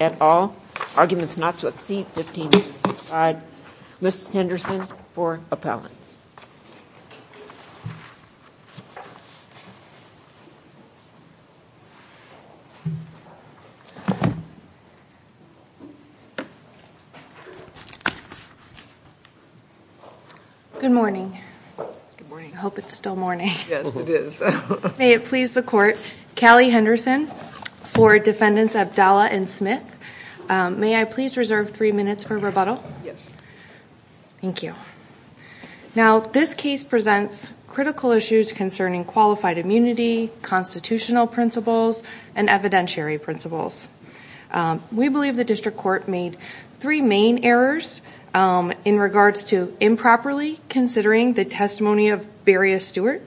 at all. Arguments not to exceed 15 minutes aside. Ms. Henderson for appellants. Good morning. Good morning. I hope it's still morning. Yes, it is. May it please the court. Callie Henderson for defendants Abdallah and Smith. May I please reserve three minutes for rebuttal? Yes. Thank you. Now, this case presents critical issues concerning qualified immunity, constitutional principles, and evidentiary principles. We believe the district court made three main errors in regards to improperly considering the testimony of Beria Stewart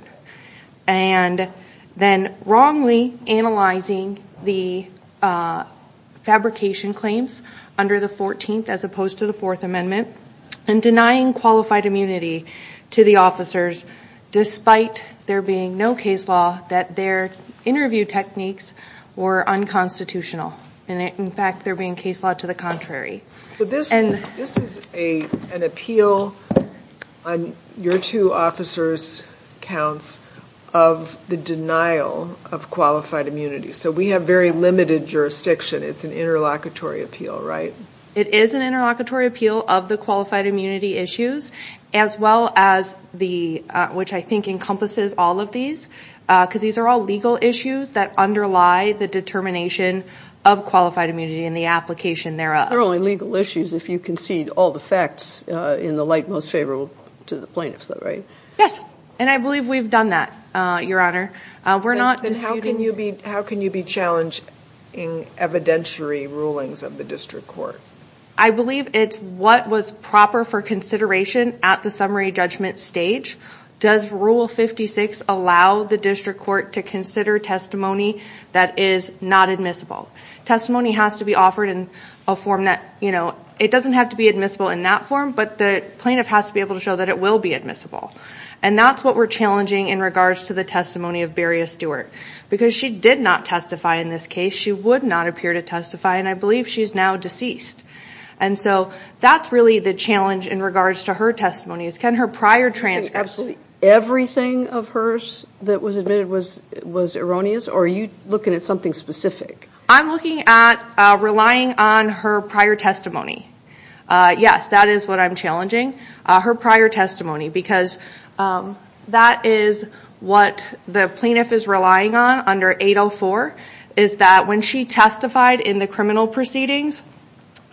and then wrongly analyzing the fabrication claims under the 14th as opposed to the Fourth Amendment and denying qualified immunity to the officers despite there being no case law that their interview techniques were unconstitutional. In fact, they're being case lawed to the contrary. So this is an appeal on your two officers' counts of the denial of qualified immunity. So we have very limited jurisdiction. It's an interlocutory appeal, right? It is an interlocutory appeal of the qualified immunity issues as well as the, which I think encompasses all of these, because these are all legal issues that underlie the determination of qualified legal issues if you concede all the facts in the light most favorable to the plaintiffs, right? Yes, and I believe we've done that, Your Honor. We're not disputing... How can you be challenging evidentiary rulings of the district court? I believe it's what was proper for consideration at the summary judgment stage. Does Rule 56 allow the district court to consider testimony that is not admissible? Testimony has to be... It doesn't have to be admissible in that form, but the plaintiff has to be able to show that it will be admissible. And that's what we're challenging in regards to the testimony of Beria Stewart, because she did not testify in this case. She would not appear to testify, and I believe she's now deceased. And so that's really the challenge in regards to her testimony is, can her prior transcripts... Can absolutely everything of hers that was admitted was erroneous, or are you looking at something specific? I'm looking at relying on her prior testimony. Yes, that is what I'm challenging, her prior testimony, because that is what the plaintiff is relying on under 804, is that when she testified in the criminal proceedings,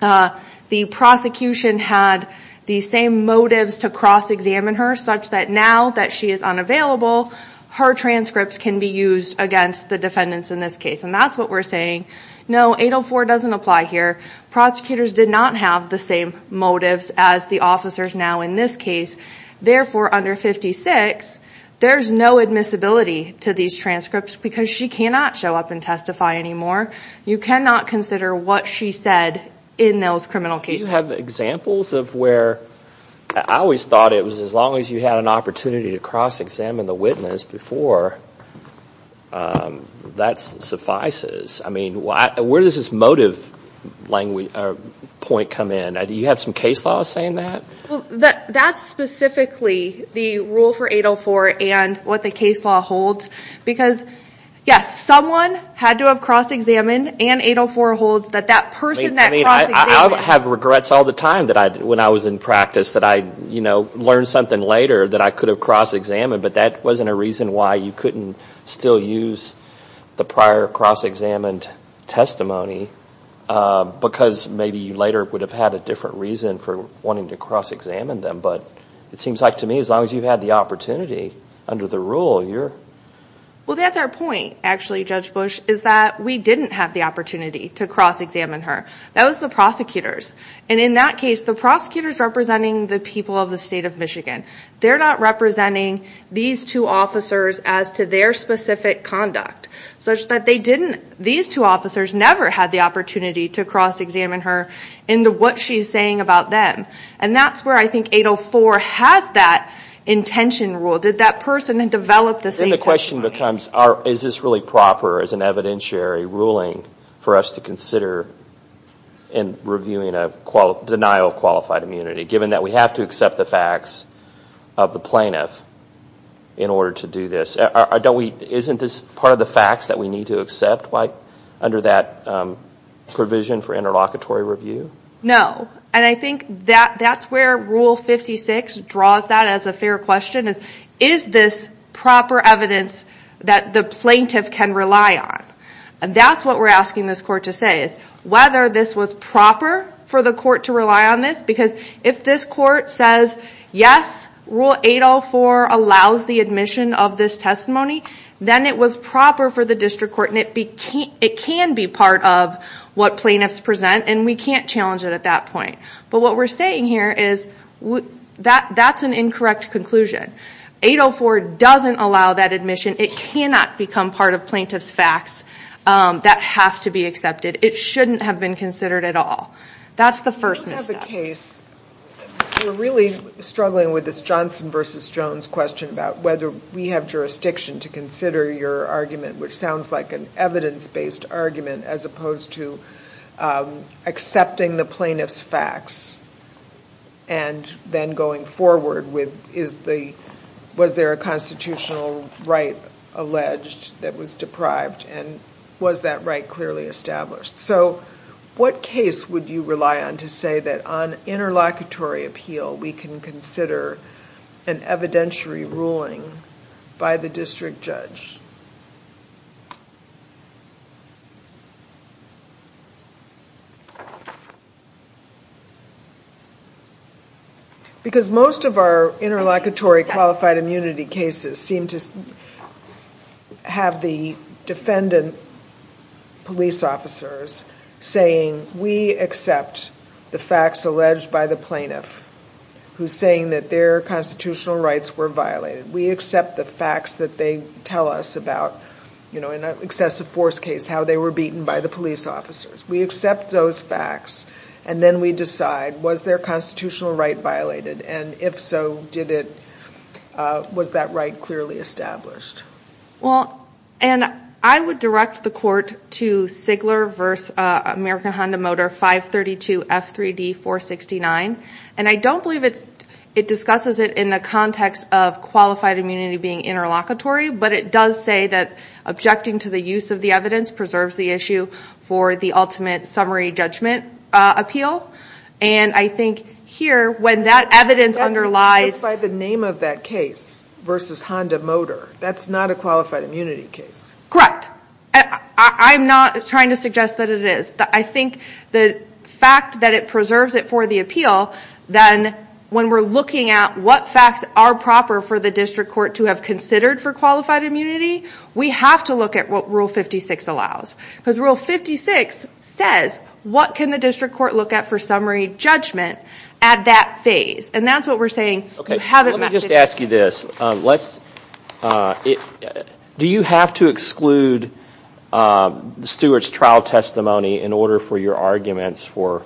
the prosecution had the same motives to cross-examine her such that now that she is unavailable, her transcripts can be used against the defendants in this case. And that's what we're saying. No, 804 doesn't apply here. Prosecutors did not have the same motives as the officers now in this case. Therefore, under 56, there's no admissibility to these transcripts because she cannot show up and testify anymore. You cannot consider what she said in those criminal cases. Do you have examples of where... I always thought it was as long as you had an opportunity to cross-examine the witness before that suffices. Where does this motive point come in? Do you have some case laws saying that? That's specifically the rule for 804 and what the case law holds, because yes, someone had to have cross-examined, and 804 holds that that person that cross-examined... I have regrets all the time when I was in practice that I learned something later that I could have cross-examined, but that wasn't a reason why you couldn't still use the prior cross-examined testimony because maybe you later would have had a different reason for wanting to cross-examine them. But it seems like to me, as long as you've had the opportunity under the rule, you're... Well, that's our point, actually, Judge Bush, is that we didn't have the opportunity to cross-examine her. That was the prosecutors. And in that case, the prosecutors representing the people of the state of Michigan. They're not representing these two officers as to their specific conduct, such that they didn't... These two officers never had the opportunity to cross-examine her into what she's saying about them. And that's where I think 804 has that intention rule. Did that person then develop the same testimony? Then the question becomes, is this really proper as an evidentiary ruling for us to consider in reviewing a denial of qualified immunity, given that we have to accept the facts of the plaintiff in order to do this? Isn't this part of the facts that we need to accept under that provision for interlocutory review? No. And I think that that's where Rule 56 draws that as a fair question, is, is this proper evidence that the plaintiff can rely on? And that's what we're asking this court to say, is whether this was proper for the court to rely on this? Because if this court says, yes, Rule 804 allows the admission of this testimony, then it was proper for the district court, and it can be part of what plaintiffs present, and we can't challenge it at that point. But what we're saying here is, that's an incorrect conclusion. 804 doesn't allow that admission. It cannot become part of plaintiff's facts that have to be accepted. It shouldn't have been considered at all. That's the first misstep. You have a case, we're really struggling with this Johnson v. Jones question about whether we have jurisdiction to consider your argument, which sounds like an evidence-based argument, as opposed to accepting the plaintiff's facts, and then going forward with, was there a constitutional right alleged that was deprived, and was that right clearly established? So, what case would you rely on to say that on interlocutory appeal, we can consider an evidentiary ruling by the district judge? Because most of our interlocutory qualified immunity cases seem to say that we have the defendant police officers saying, we accept the facts alleged by the plaintiff, who's saying that their constitutional rights were violated. We accept the facts that they tell us about, you know, in an excessive force case, how they were beaten by the police officers. We accept those facts, and then we decide, was their constitutional right violated, and if so, did it, was that right clearly established? Well, and I would direct the court to Sigler v. American Honda Motor 532F3D469, and I don't believe it discusses it in the context of qualified immunity being interlocutory, but it does say that objecting to the use of the evidence preserves the issue for the ultimate summary judgment appeal, and I think here, when that evidence underlies... Just by the name of that case, versus Honda Motor, that's not a qualified immunity case. Correct. I'm not trying to suggest that it is. I think the fact that it preserves it for the appeal, then when we're looking at what facts are proper for the district court to have considered for qualified immunity, we have to look at what Rule 56 allows. Because Rule 56 says, what can the district court look at for summary judgment at that phase? And that's what we're saying, you haven't met the... Okay, let me just ask you this. Do you have to exclude the steward's trial testimony in order for your arguments for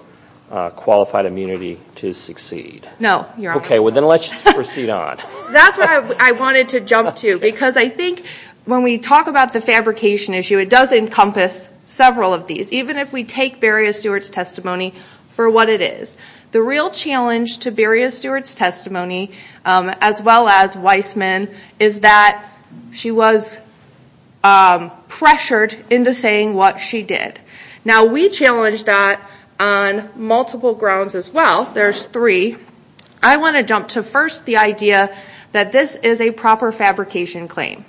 qualified immunity to succeed? No, Your Honor. Okay, well then let's proceed on. That's what I wanted to jump to, because I think when we talk about the fabrication issue, it does encompass several of these, even if we take Beria Stewart's testimony for what it is. The real challenge to Beria Stewart's testimony, as well as Weissman, is that she was pressured into saying what she did. Now, we challenge that on multiple grounds as well. There's three. I want to jump to first the idea that this is a proper fabrication claim,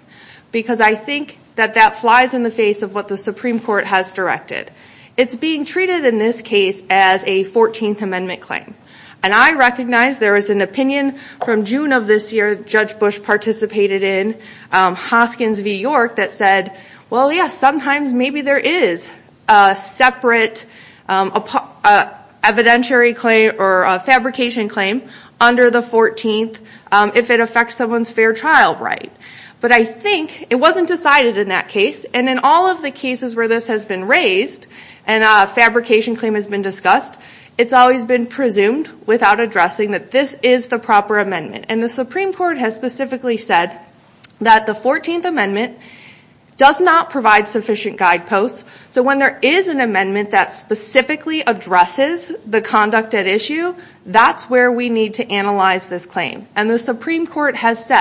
because I think that that flies in the face of what the Supreme Court has directed. It's being treated in this case as a 14th Amendment claim. And I recognize there is an opinion from June of this year, Judge Bush participated in Hoskins v. York that said, well, yes, sometimes maybe there is a separate evidentiary claim or a fabrication claim under the 14th if it was decided in that case. And in all of the cases where this has been raised and a fabrication claim has been discussed, it's always been presumed without addressing that this is the proper amendment. And the Supreme Court has specifically said that the 14th Amendment does not provide sufficient guideposts. So when there is an amendment that specifically addresses the conduct at issue, that's where we need to analyze this claim. And the Supreme Court is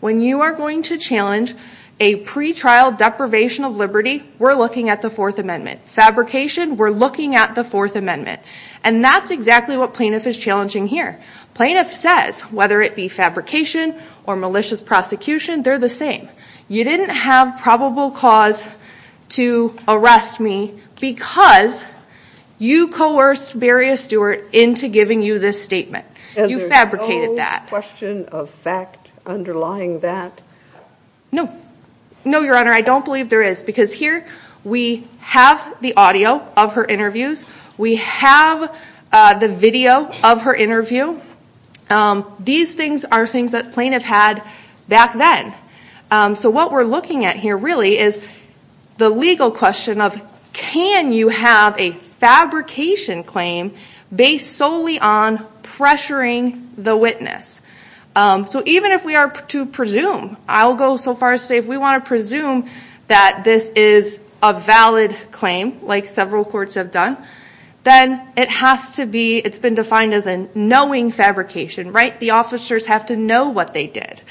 going to challenge a pretrial deprivation of liberty, we're looking at the 4th Amendment. Fabrication, we're looking at the 4th Amendment. And that's exactly what plaintiff is challenging here. Plaintiff says, whether it be fabrication or malicious prosecution, they're the same. You didn't have probable cause to arrest me because you coerced Beria Stewart into giving you this statement. You fabricated that. Is there no question of fact underlying that? No. No, Your Honor, I don't believe there is. Because here we have the audio of her interviews. We have the video of her interview. These things are things that plaintiff had back then. So what we're looking at here really is the legal question of, can you have a fabrication claim based solely on pressuring the witness? So even if we are to presume, I'll go so far as to say if we want to presume that this is a valid claim, like several courts have done, then it has to be, it's been defined as a knowing fabrication, right? The officers have to know what they did.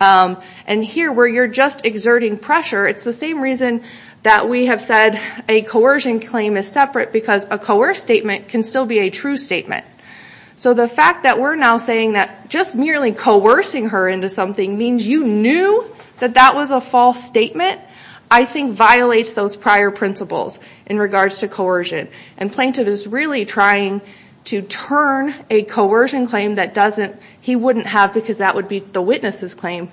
And here, where you're just exerting pressure, it's the same reason that we have said a coercion claim is separate because a coerced statement can still be a true statement. So the fact that we're now saying that just merely coercing her into something means you knew that that was a false statement, I think violates those prior principles in regards to coercion. And plaintiff is really trying to turn a coercion claim that doesn't, he wouldn't have because that would be the witness's claim,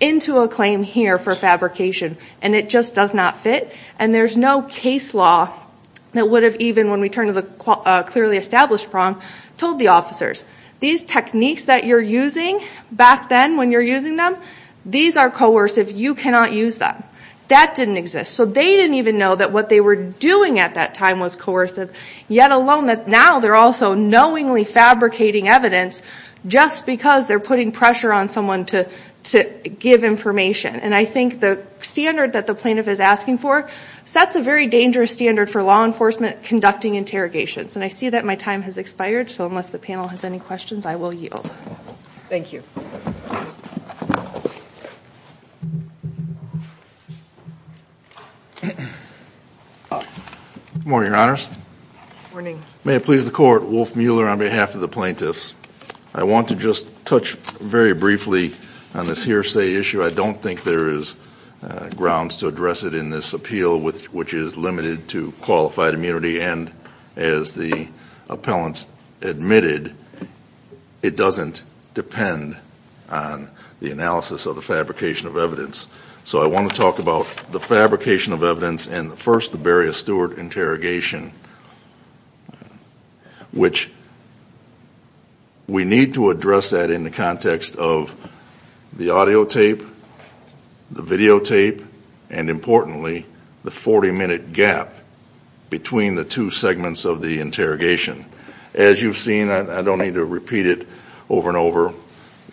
into a claim here for fabrication. And it just does not fit. And there's no case law that would have even, when we turn to the clearly established prong, told the officers, these techniques that you're using back then when you're using them, these are coercive, you cannot use them. That didn't exist. So they didn't even know that what they were doing at that time was coercive, yet alone that now they're also knowingly fabricating evidence just because they're putting pressure on someone to give information. And I think the standard that the plaintiff is asking for sets a very dangerous standard for law enforcement conducting interrogations. And I see that my time has expired, so unless the panel has any questions, I will yield. Thank you. Good morning, Your Honors. Morning. May it please the Court, Wolf Mueller on behalf of the plaintiffs. I want to just touch very briefly on this hearsay issue. I don't think there is grounds to address it in this appeal which is limited to qualified immunity. And as the appellants admitted, it doesn't depend on the analysis of the fabrication of evidence. So I want to talk about the fabrication of evidence and first the Beria-Stewart interrogation, which we need to address that in the context of the audio tape, the video tape, and importantly, the 40-minute gap between the two segments of the interrogation. As you've seen, I don't need to repeat it over and over,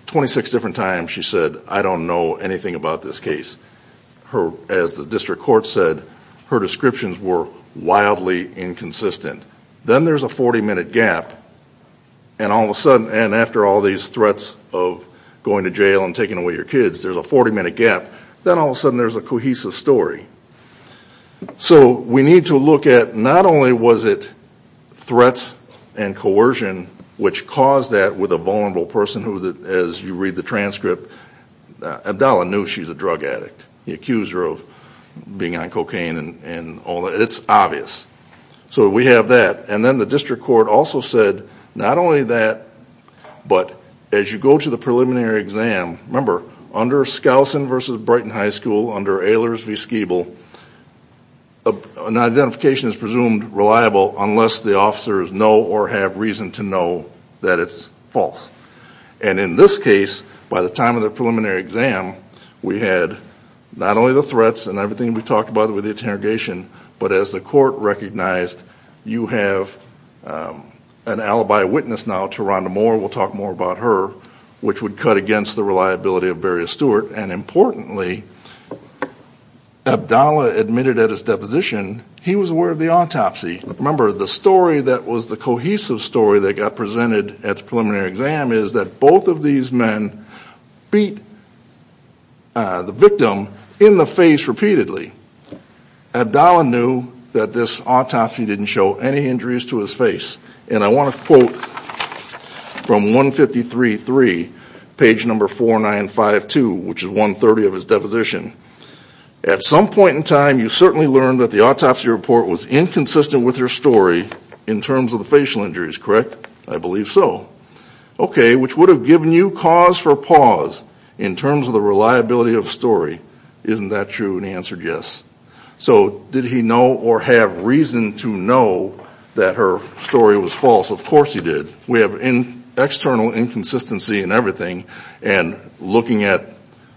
26 different times she said, I don't know anything about this case. As the district court said, her descriptions were wildly inconsistent. Then there's a 40-minute gap, and after all these threats of going to jail and taking away your kids, there's a 40-minute gap. Then all of a sudden there's a cohesive story. So we need to look at not only was it threats and coercion which caused that with a vulnerable person who, as you read the transcript, Abdallah knew she was a drug addict. He accused her of being on cocaine and all that. It's obvious. So we have that. And then the district court also said, not only that, but as you go to the preliminary exam, remember, under Skousen v. Brighton High School, under Ehlers-Wieskebel, an identification is presumed reliable unless the officers know or have reason to know that it's false. And in this case, by the time of the preliminary exam, we had not only the threats and everything we talked about with the interrogation, but as the court recognized, you have an alibi witness now to Rhonda Moore. We'll talk more about her, which would cut against the reliability of Beria-Stewart. And importantly, Abdallah admitted at his deposition he was aware of the autopsy. Remember, the story that was the cohesive story that got presented at the preliminary exam is that both of these men beat the victim in the face repeatedly. Abdallah knew that this autopsy didn't show any injuries to his face. And I want to quote from 153.3, page number 495.2, which is 130 of his deposition. At some point in time, you certainly learned that the autopsy report was inconsistent with her story in terms of the facial injuries, correct? I believe so. Okay, which would have given you cause for pause in terms of the reliability of the story. Isn't that true? And he answered yes. So did he know or have reason to know that her story was false? Of course he did. We have external inconsistency in everything, and looking at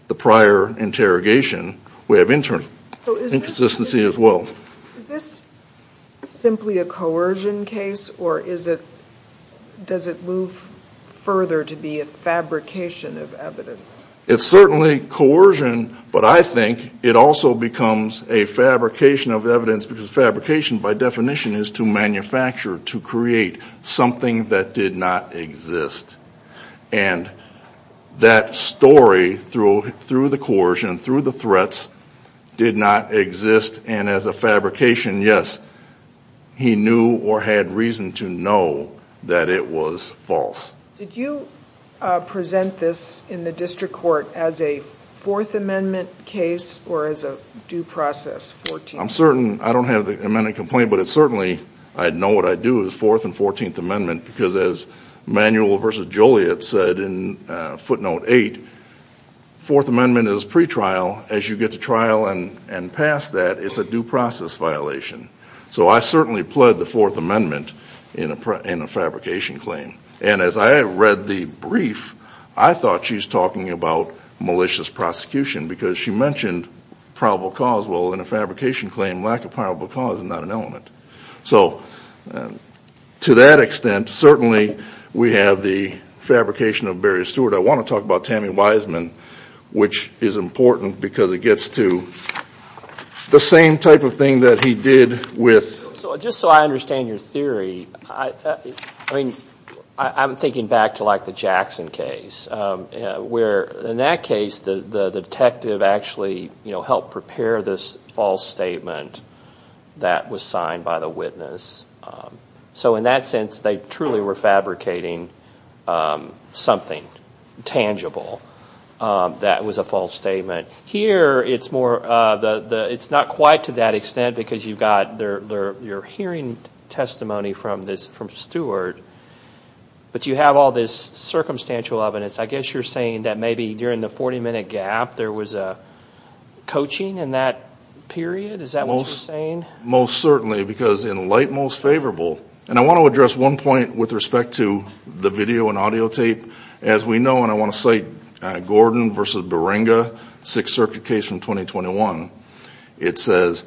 the prior interrogation, we have internal inconsistency as well. Is this simply a coercion case, or does it move further to be a fabrication of evidence? It's certainly coercion, but I think it also becomes a fabrication of evidence, because fabrication, by definition, is to manufacture, to create something that did not exist. And that story, through the coercion, through the threats, did not exist. And as a fabrication, yes, he knew or had reason to know that it was false. Did you present this in the district court as a Fourth Amendment case, or as a due process? I'm certain, I don't have the amendment complaint, but it's certainly, I know what I do, is Fourth and Fourteenth Amendment, because as Manuel v. Joliet said in footnote 8, Fourth Amendment is pretrial. As you get to trial and past that, it's a due process violation. So I certainly pled the Fourth Amendment in a fabrication claim. And as I read the brief, I thought she's talking about malicious prosecution, because she mentioned probable cause. Well, in a fabrication claim, lack of probable cause is not an element. So to that extent, certainly we have the fabrication of Barry Stewart. I want to talk about Tammy Wiseman, which is important, because it gets to the same type of thing that he did with... Just so I understand your theory, I'm thinking back to the Jackson case, where in that case, the detective actually helped prepare this false statement that was signed by the witness. So in that sense, they truly were fabricating something tangible that was a false statement. Here, it's more, it's not quite to that extent, because you've got your hearing testimony from Stewart, but you have all this circumstantial evidence. I guess you're saying that maybe during the 40 minute gap, there was a coaching in that period? Is that what you're saying? Most certainly, because in light most favorable, and I want to address one point with respect to the video and audio tape. As we know, and I want to cite Gordon v. Baringa, Sixth Circuit case from 2021. It says,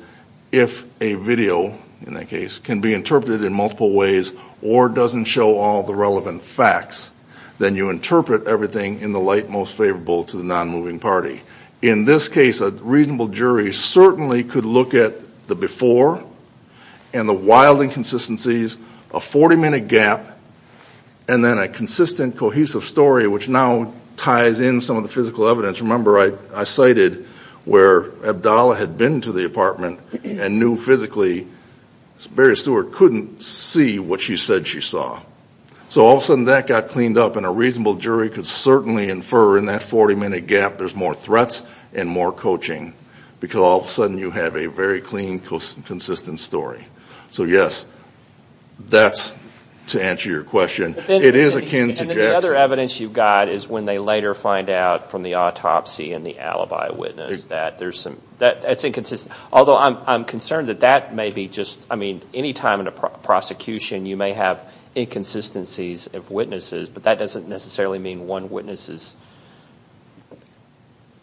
if a video, in that case, can be interpreted in multiple ways, or doesn't show all the relevant facts, then you interpret everything in the light most favorable to the non-moving party. In this case, a reasonable jury certainly could look at the before, and the wild inconsistencies, a 40 minute gap, and then a consistent, cohesive story which now ties in some of the physical evidence. Remember, I cited where Abdallah had been to the apartment, and knew physically Barry Stewart couldn't see what she said she saw. So all of a sudden, that got cleaned up, and a reasonable jury could certainly infer in that 40 minute gap, there's more threats and more coaching. Because all of a sudden, it's a very clean, consistent story. So yes, that's to answer your question. It is akin to Jackson. And then the other evidence you've got is when they later find out from the autopsy and the alibi witness that there's some, that's inconsistent. Although I'm concerned that that may be just, I mean, any time in a prosecution, you may have inconsistencies of witnesses, but that doesn't necessarily mean one witness is,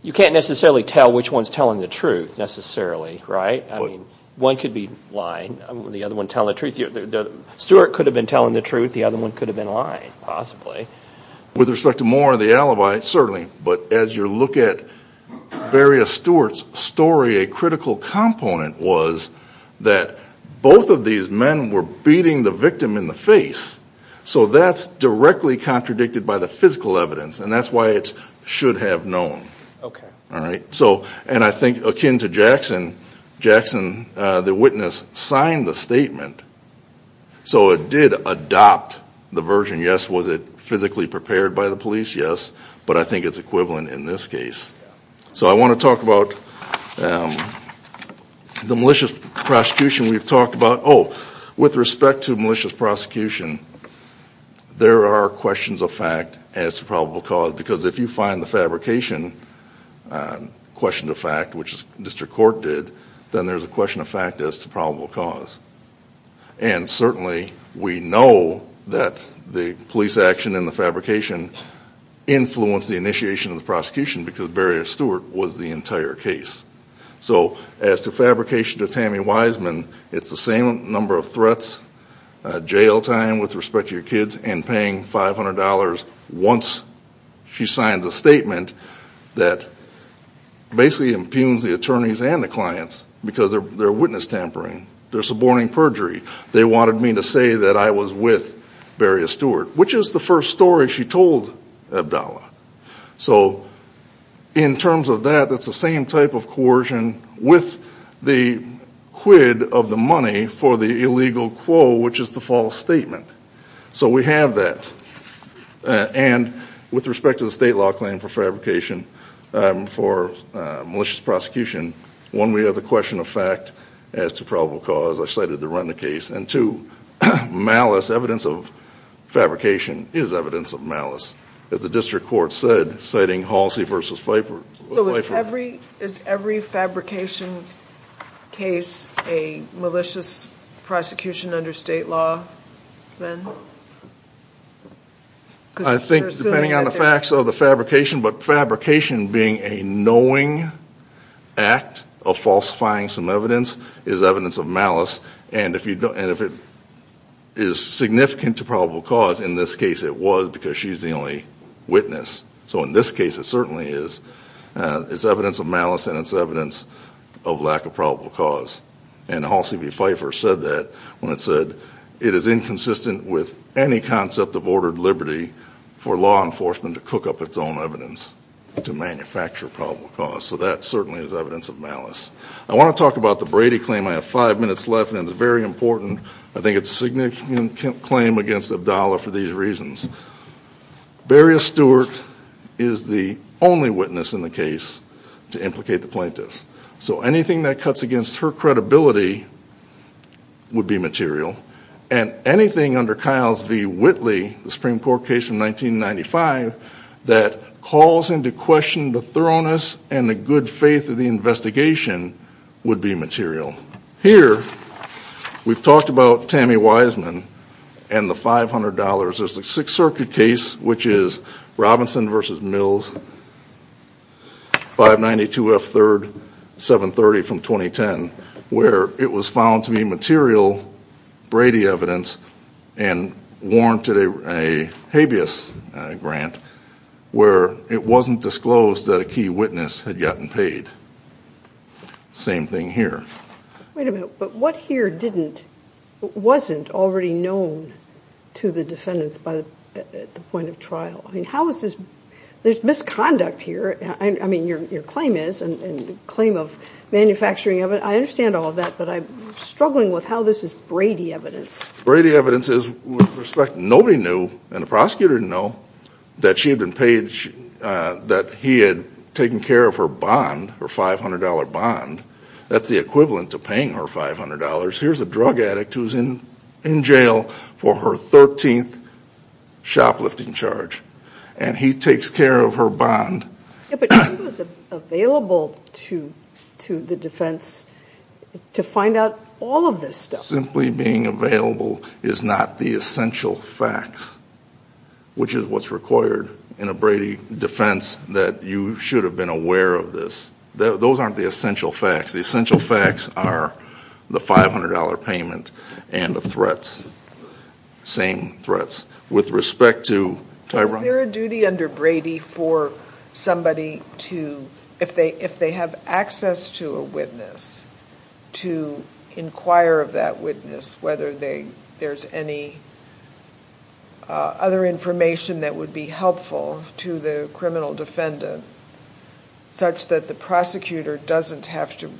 you can't necessarily tell which one's telling the truth, necessarily, right? I mean, one could be lying, the other one telling the truth. Stewart could have been telling the truth, the other one could have been lying, possibly. With respect to Moore and the alibi, certainly. But as you look at Barry Stewart's story, a critical component was that both of these men were beating the victim in the face. So that's directly contradicted by the physical evidence, and that's why it should have known. All right? So, and I think akin to Jackson, Jackson, the witness, signed the statement. So it did adopt the version, yes, was it physically prepared by the police? Yes. But I think it's equivalent in this case. So I want to talk about the malicious prosecution we've talked about. Oh, with respect to malicious prosecution, there are questions of fact as to probable cause. Because if you find the fabrication, question of fact, which the district court did, then there's a question of fact as to probable cause. And certainly, we know that the police action and the fabrication influenced the initiation of the prosecution, because Barry Stewart was the entire case. So as to fabrication of Tammy Wiseman, it's the same number of threats, jail time with respect to your kids, and paying $500 once she signs a statement that basically impugns the attorneys and the clients, because they're witness tampering. They're suborning perjury. They wanted me to say that I was with Barry Stewart, which is the first story she told Abdallah. So in terms of that, that's the same type of coercion with the quid of the money for the illegal quo, which is the false statement. So we have that. And with respect to the state law claim for fabrication for malicious prosecution, one, we have the question of fact as to probable cause. I cited the Renda case. And two, malice, evidence of fabrication is evidence of malice, as the district court said, citing Halsey v. Pfeiffer. So is every fabrication case a malicious prosecution under state law, then? I think, depending on the facts of the fabrication, but fabrication being a knowing act of falsifying some evidence is evidence of malice. And if it is significant to probable cause, in this case, it was, because she's the only witness. So in this case, it certainly is. It's evidence of malice, and it's evidence of lack of probable cause. And Halsey v. Pfeiffer said that when it said, it is inconsistent with any concept of ordered liberty for law enforcement to cook up its own evidence to manufacture probable cause. So that certainly is evidence of malice. I want to talk about the Brady claim. I have five minutes left, and it's very important. I think it's a significant claim against Abdallah for these reasons. Beria Stewart is the only witness in the case to implicate the plaintiffs. So anything that cuts against her credibility would be material. And anything under Kiles v. Whitley, the Supreme Court case from 1995, that calls into question the thoroughness and the good faith of the investigation would be material. Here, we've talked about Tammy Wiseman and the $500. There's the Sixth Circuit case, which is Robinson v. Mills, 592 F. 3rd, 730 from 2010, where it was found to be material Brady evidence and warranted a habeas grant, where it wasn't disclosed that a key witness had gotten paid. Same thing here. Wait a minute. But what here wasn't already known to the defendants at the point of trial? How is this? There's misconduct here. I mean, your claim is, and the claim of manufacturing evidence, I understand all of that, but I'm struggling with how this is Brady evidence. Brady evidence is, with respect, nobody knew, and the prosecutor didn't know, that she had been paid, that he had taken care of her bond, her $500 bond. That's the equivalent of paying her $500. Here's a drug addict who's in jail for her 13th shoplifting charge, and he takes care of her bond. Yeah, but he was available to the defense to find out all of this stuff. Simply being available is not the essential facts, which is what's required in a Brady defense, that you should have been aware of this. Those aren't the essential facts. The essential facts are the $500 payment and the threats, same threats. With respect to Tyrone- Is there a duty under Brady for somebody to, if they have access to a witness, to inquire of that witness, whether there's any other information that would be helpful to the criminal defendant, such that the prosecutor doesn't have to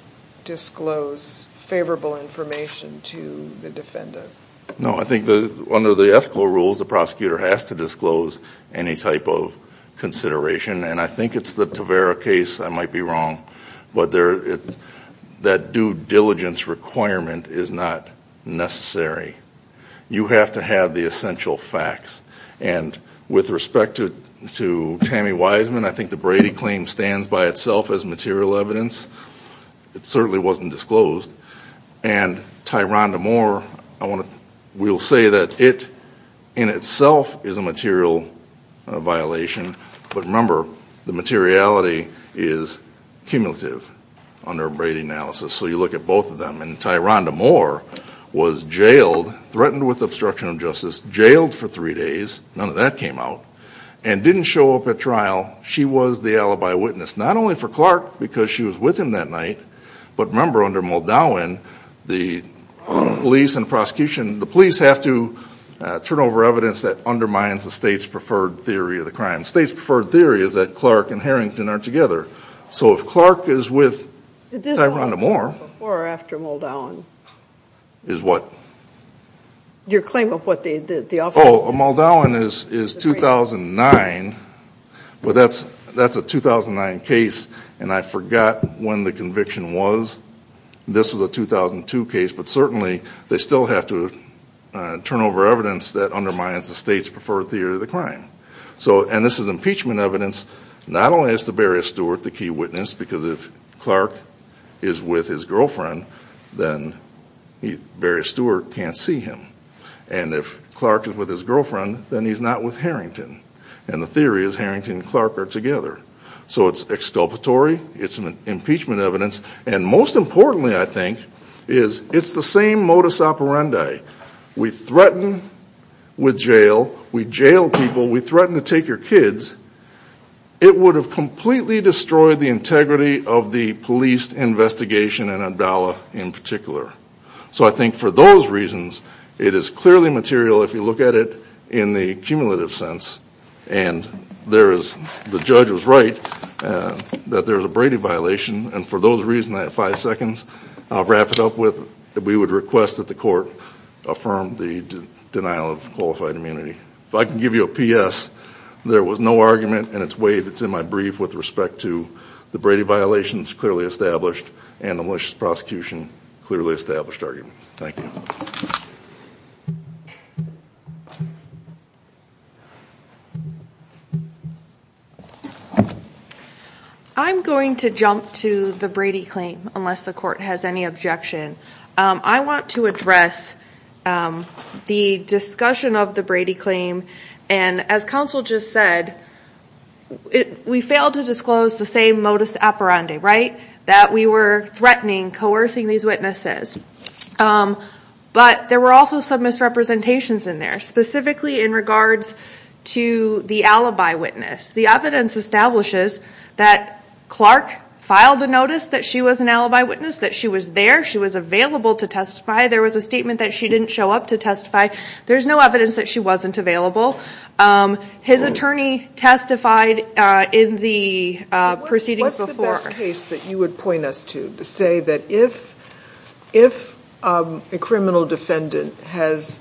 disclose favorable information to the defendant? No, I think under the ethical rules, the prosecutor has to disclose any type of consideration, and I think it's the Tavara case, I might be wrong, but that due diligence requirement is not necessary. You have to have the essential facts, and with respect to Tammy Wiseman, I think the Brady claim stands by itself as material evidence. It certainly wasn't disclosed, and Tyrone Damore, we'll say that it in itself is a material violation, but remember, the defendant, Tyrone Damore, was jailed, threatened with obstruction of justice, jailed for three days, none of that came out, and didn't show up at trial. She was the alibi witness, not only for Clark, because she was with him that night, but remember under Muldowan, the police and prosecution, the police have to turn over evidence that undermines the state's preferred theory of the crime. The state's preferred theory is that Clark and Harrington are together, so if Clark is with Tyrone Damore- Your claim of what they did, the offer- Oh, Muldowan is 2009, but that's a 2009 case, and I forgot when the conviction was. This was a 2002 case, but certainly they still have to turn over evidence that undermines the state's preferred theory of the crime. So, and this is impeachment evidence, not only is the Barrius Stewart the key witness, because if Clark is with his girlfriend, then Barrius Stewart can't see him, and if Clark is with his girlfriend, then he's not with Harrington, and the theory is Harrington and Clark are together. So it's exculpatory, it's impeachment evidence, and most importantly, I think, is it's the same modus operandi. We threaten with jail, we jail people, we threaten to take your kids, it would have completely destroyed the integrity of the police investigation, and Abdallah in particular. So I think for those reasons, it is clearly material if you look at it in the cumulative sense, and there is, the judge was right, that there is a Brady violation, and for those reasons, I have five seconds, I'll wrap it up with that we would request that the court affirm the denial of qualified immunity. If I can give you a PS, there was no argument in its way that's in my brief with respect to the Brady violations clearly established and the malicious prosecution clearly established argument. Thank you. I'm going to jump to the Brady claim, unless the court has any objection. I want to address the discussion of the Brady claim, and as counsel just said, we failed to disclose the same modus operandi, that we were threatening, coercing these witnesses. But there were also some misrepresentations in there, specifically in regards to the alibi witness. The evidence establishes that Clark filed a notice that she was an alibi witness, that she was there, she was available to testify, there was a statement that she didn't show up to testify, there's no evidence that she wasn't available. His attorney testified in the proceedings before. What's the best case that you would point us to, to say that if a criminal defendant has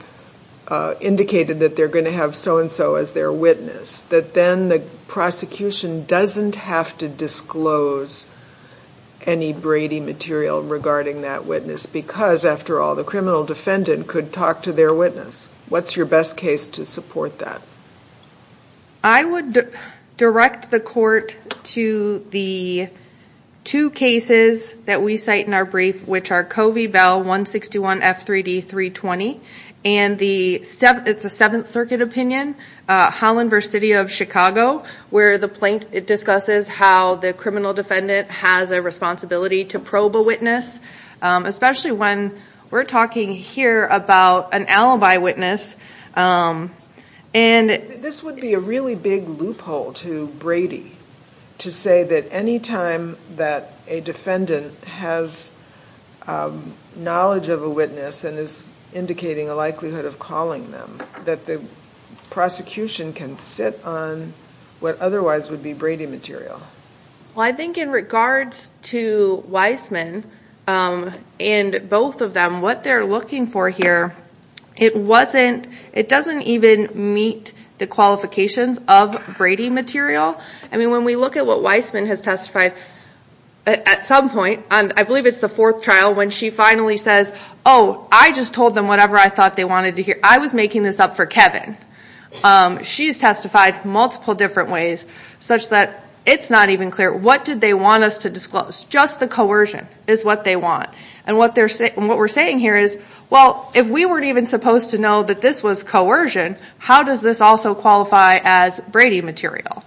indicated that they're going to have so-and-so as their witness, that then the prosecution doesn't have to disclose any Brady material regarding that witness, because after all, the criminal defendant could talk to their witness. What's your best case to support that? I would direct the court to the two cases that we cite in our brief, which are Covey Bell 161 F3D 320, and it's a 7th Circuit opinion, Holland v. City of Chicago, where the plaintiff discusses how the criminal defendant has a responsibility to probe a witness, especially when we're talking here about an alibi witness. This would be a really big loophole to Brady to say that any time that a defendant has knowledge of a witness and is indicating a likelihood of calling them, that the prosecution can sit on what otherwise would be Brady material. I think in regards to Weissman and both of them, what they're looking for here, it doesn't even meet the qualifications of Brady material. When we look at what Weissman has testified at some point, I believe it's the fourth trial, when she finally says, oh, I just told them whatever I thought they wanted to hear. I was making this up for Kevin. She's testified multiple different ways, such that it's not even clear what did they want us to disclose. Just the coercion is what they want. What we're saying here is, well, if we weren't even supposed to know that this was coercion, how does this also qualify as Brady material?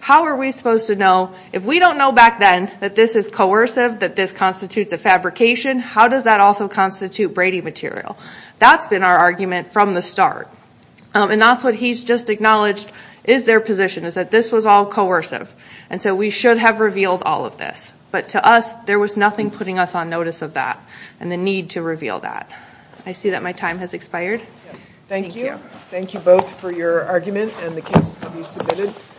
How are we supposed to know, if we don't know back then that this is coercive, that this constitutes a fabrication, how does that also constitute Brady material? That's been our argument from the start. That's what he's just acknowledged is their position, is that this was all coercive. We should have revealed all of this. To us, there was nothing putting us on notice of that and the need to reveal that. I see that my time has expired. Thank you. Thank you both for your argument and the case to be submitted.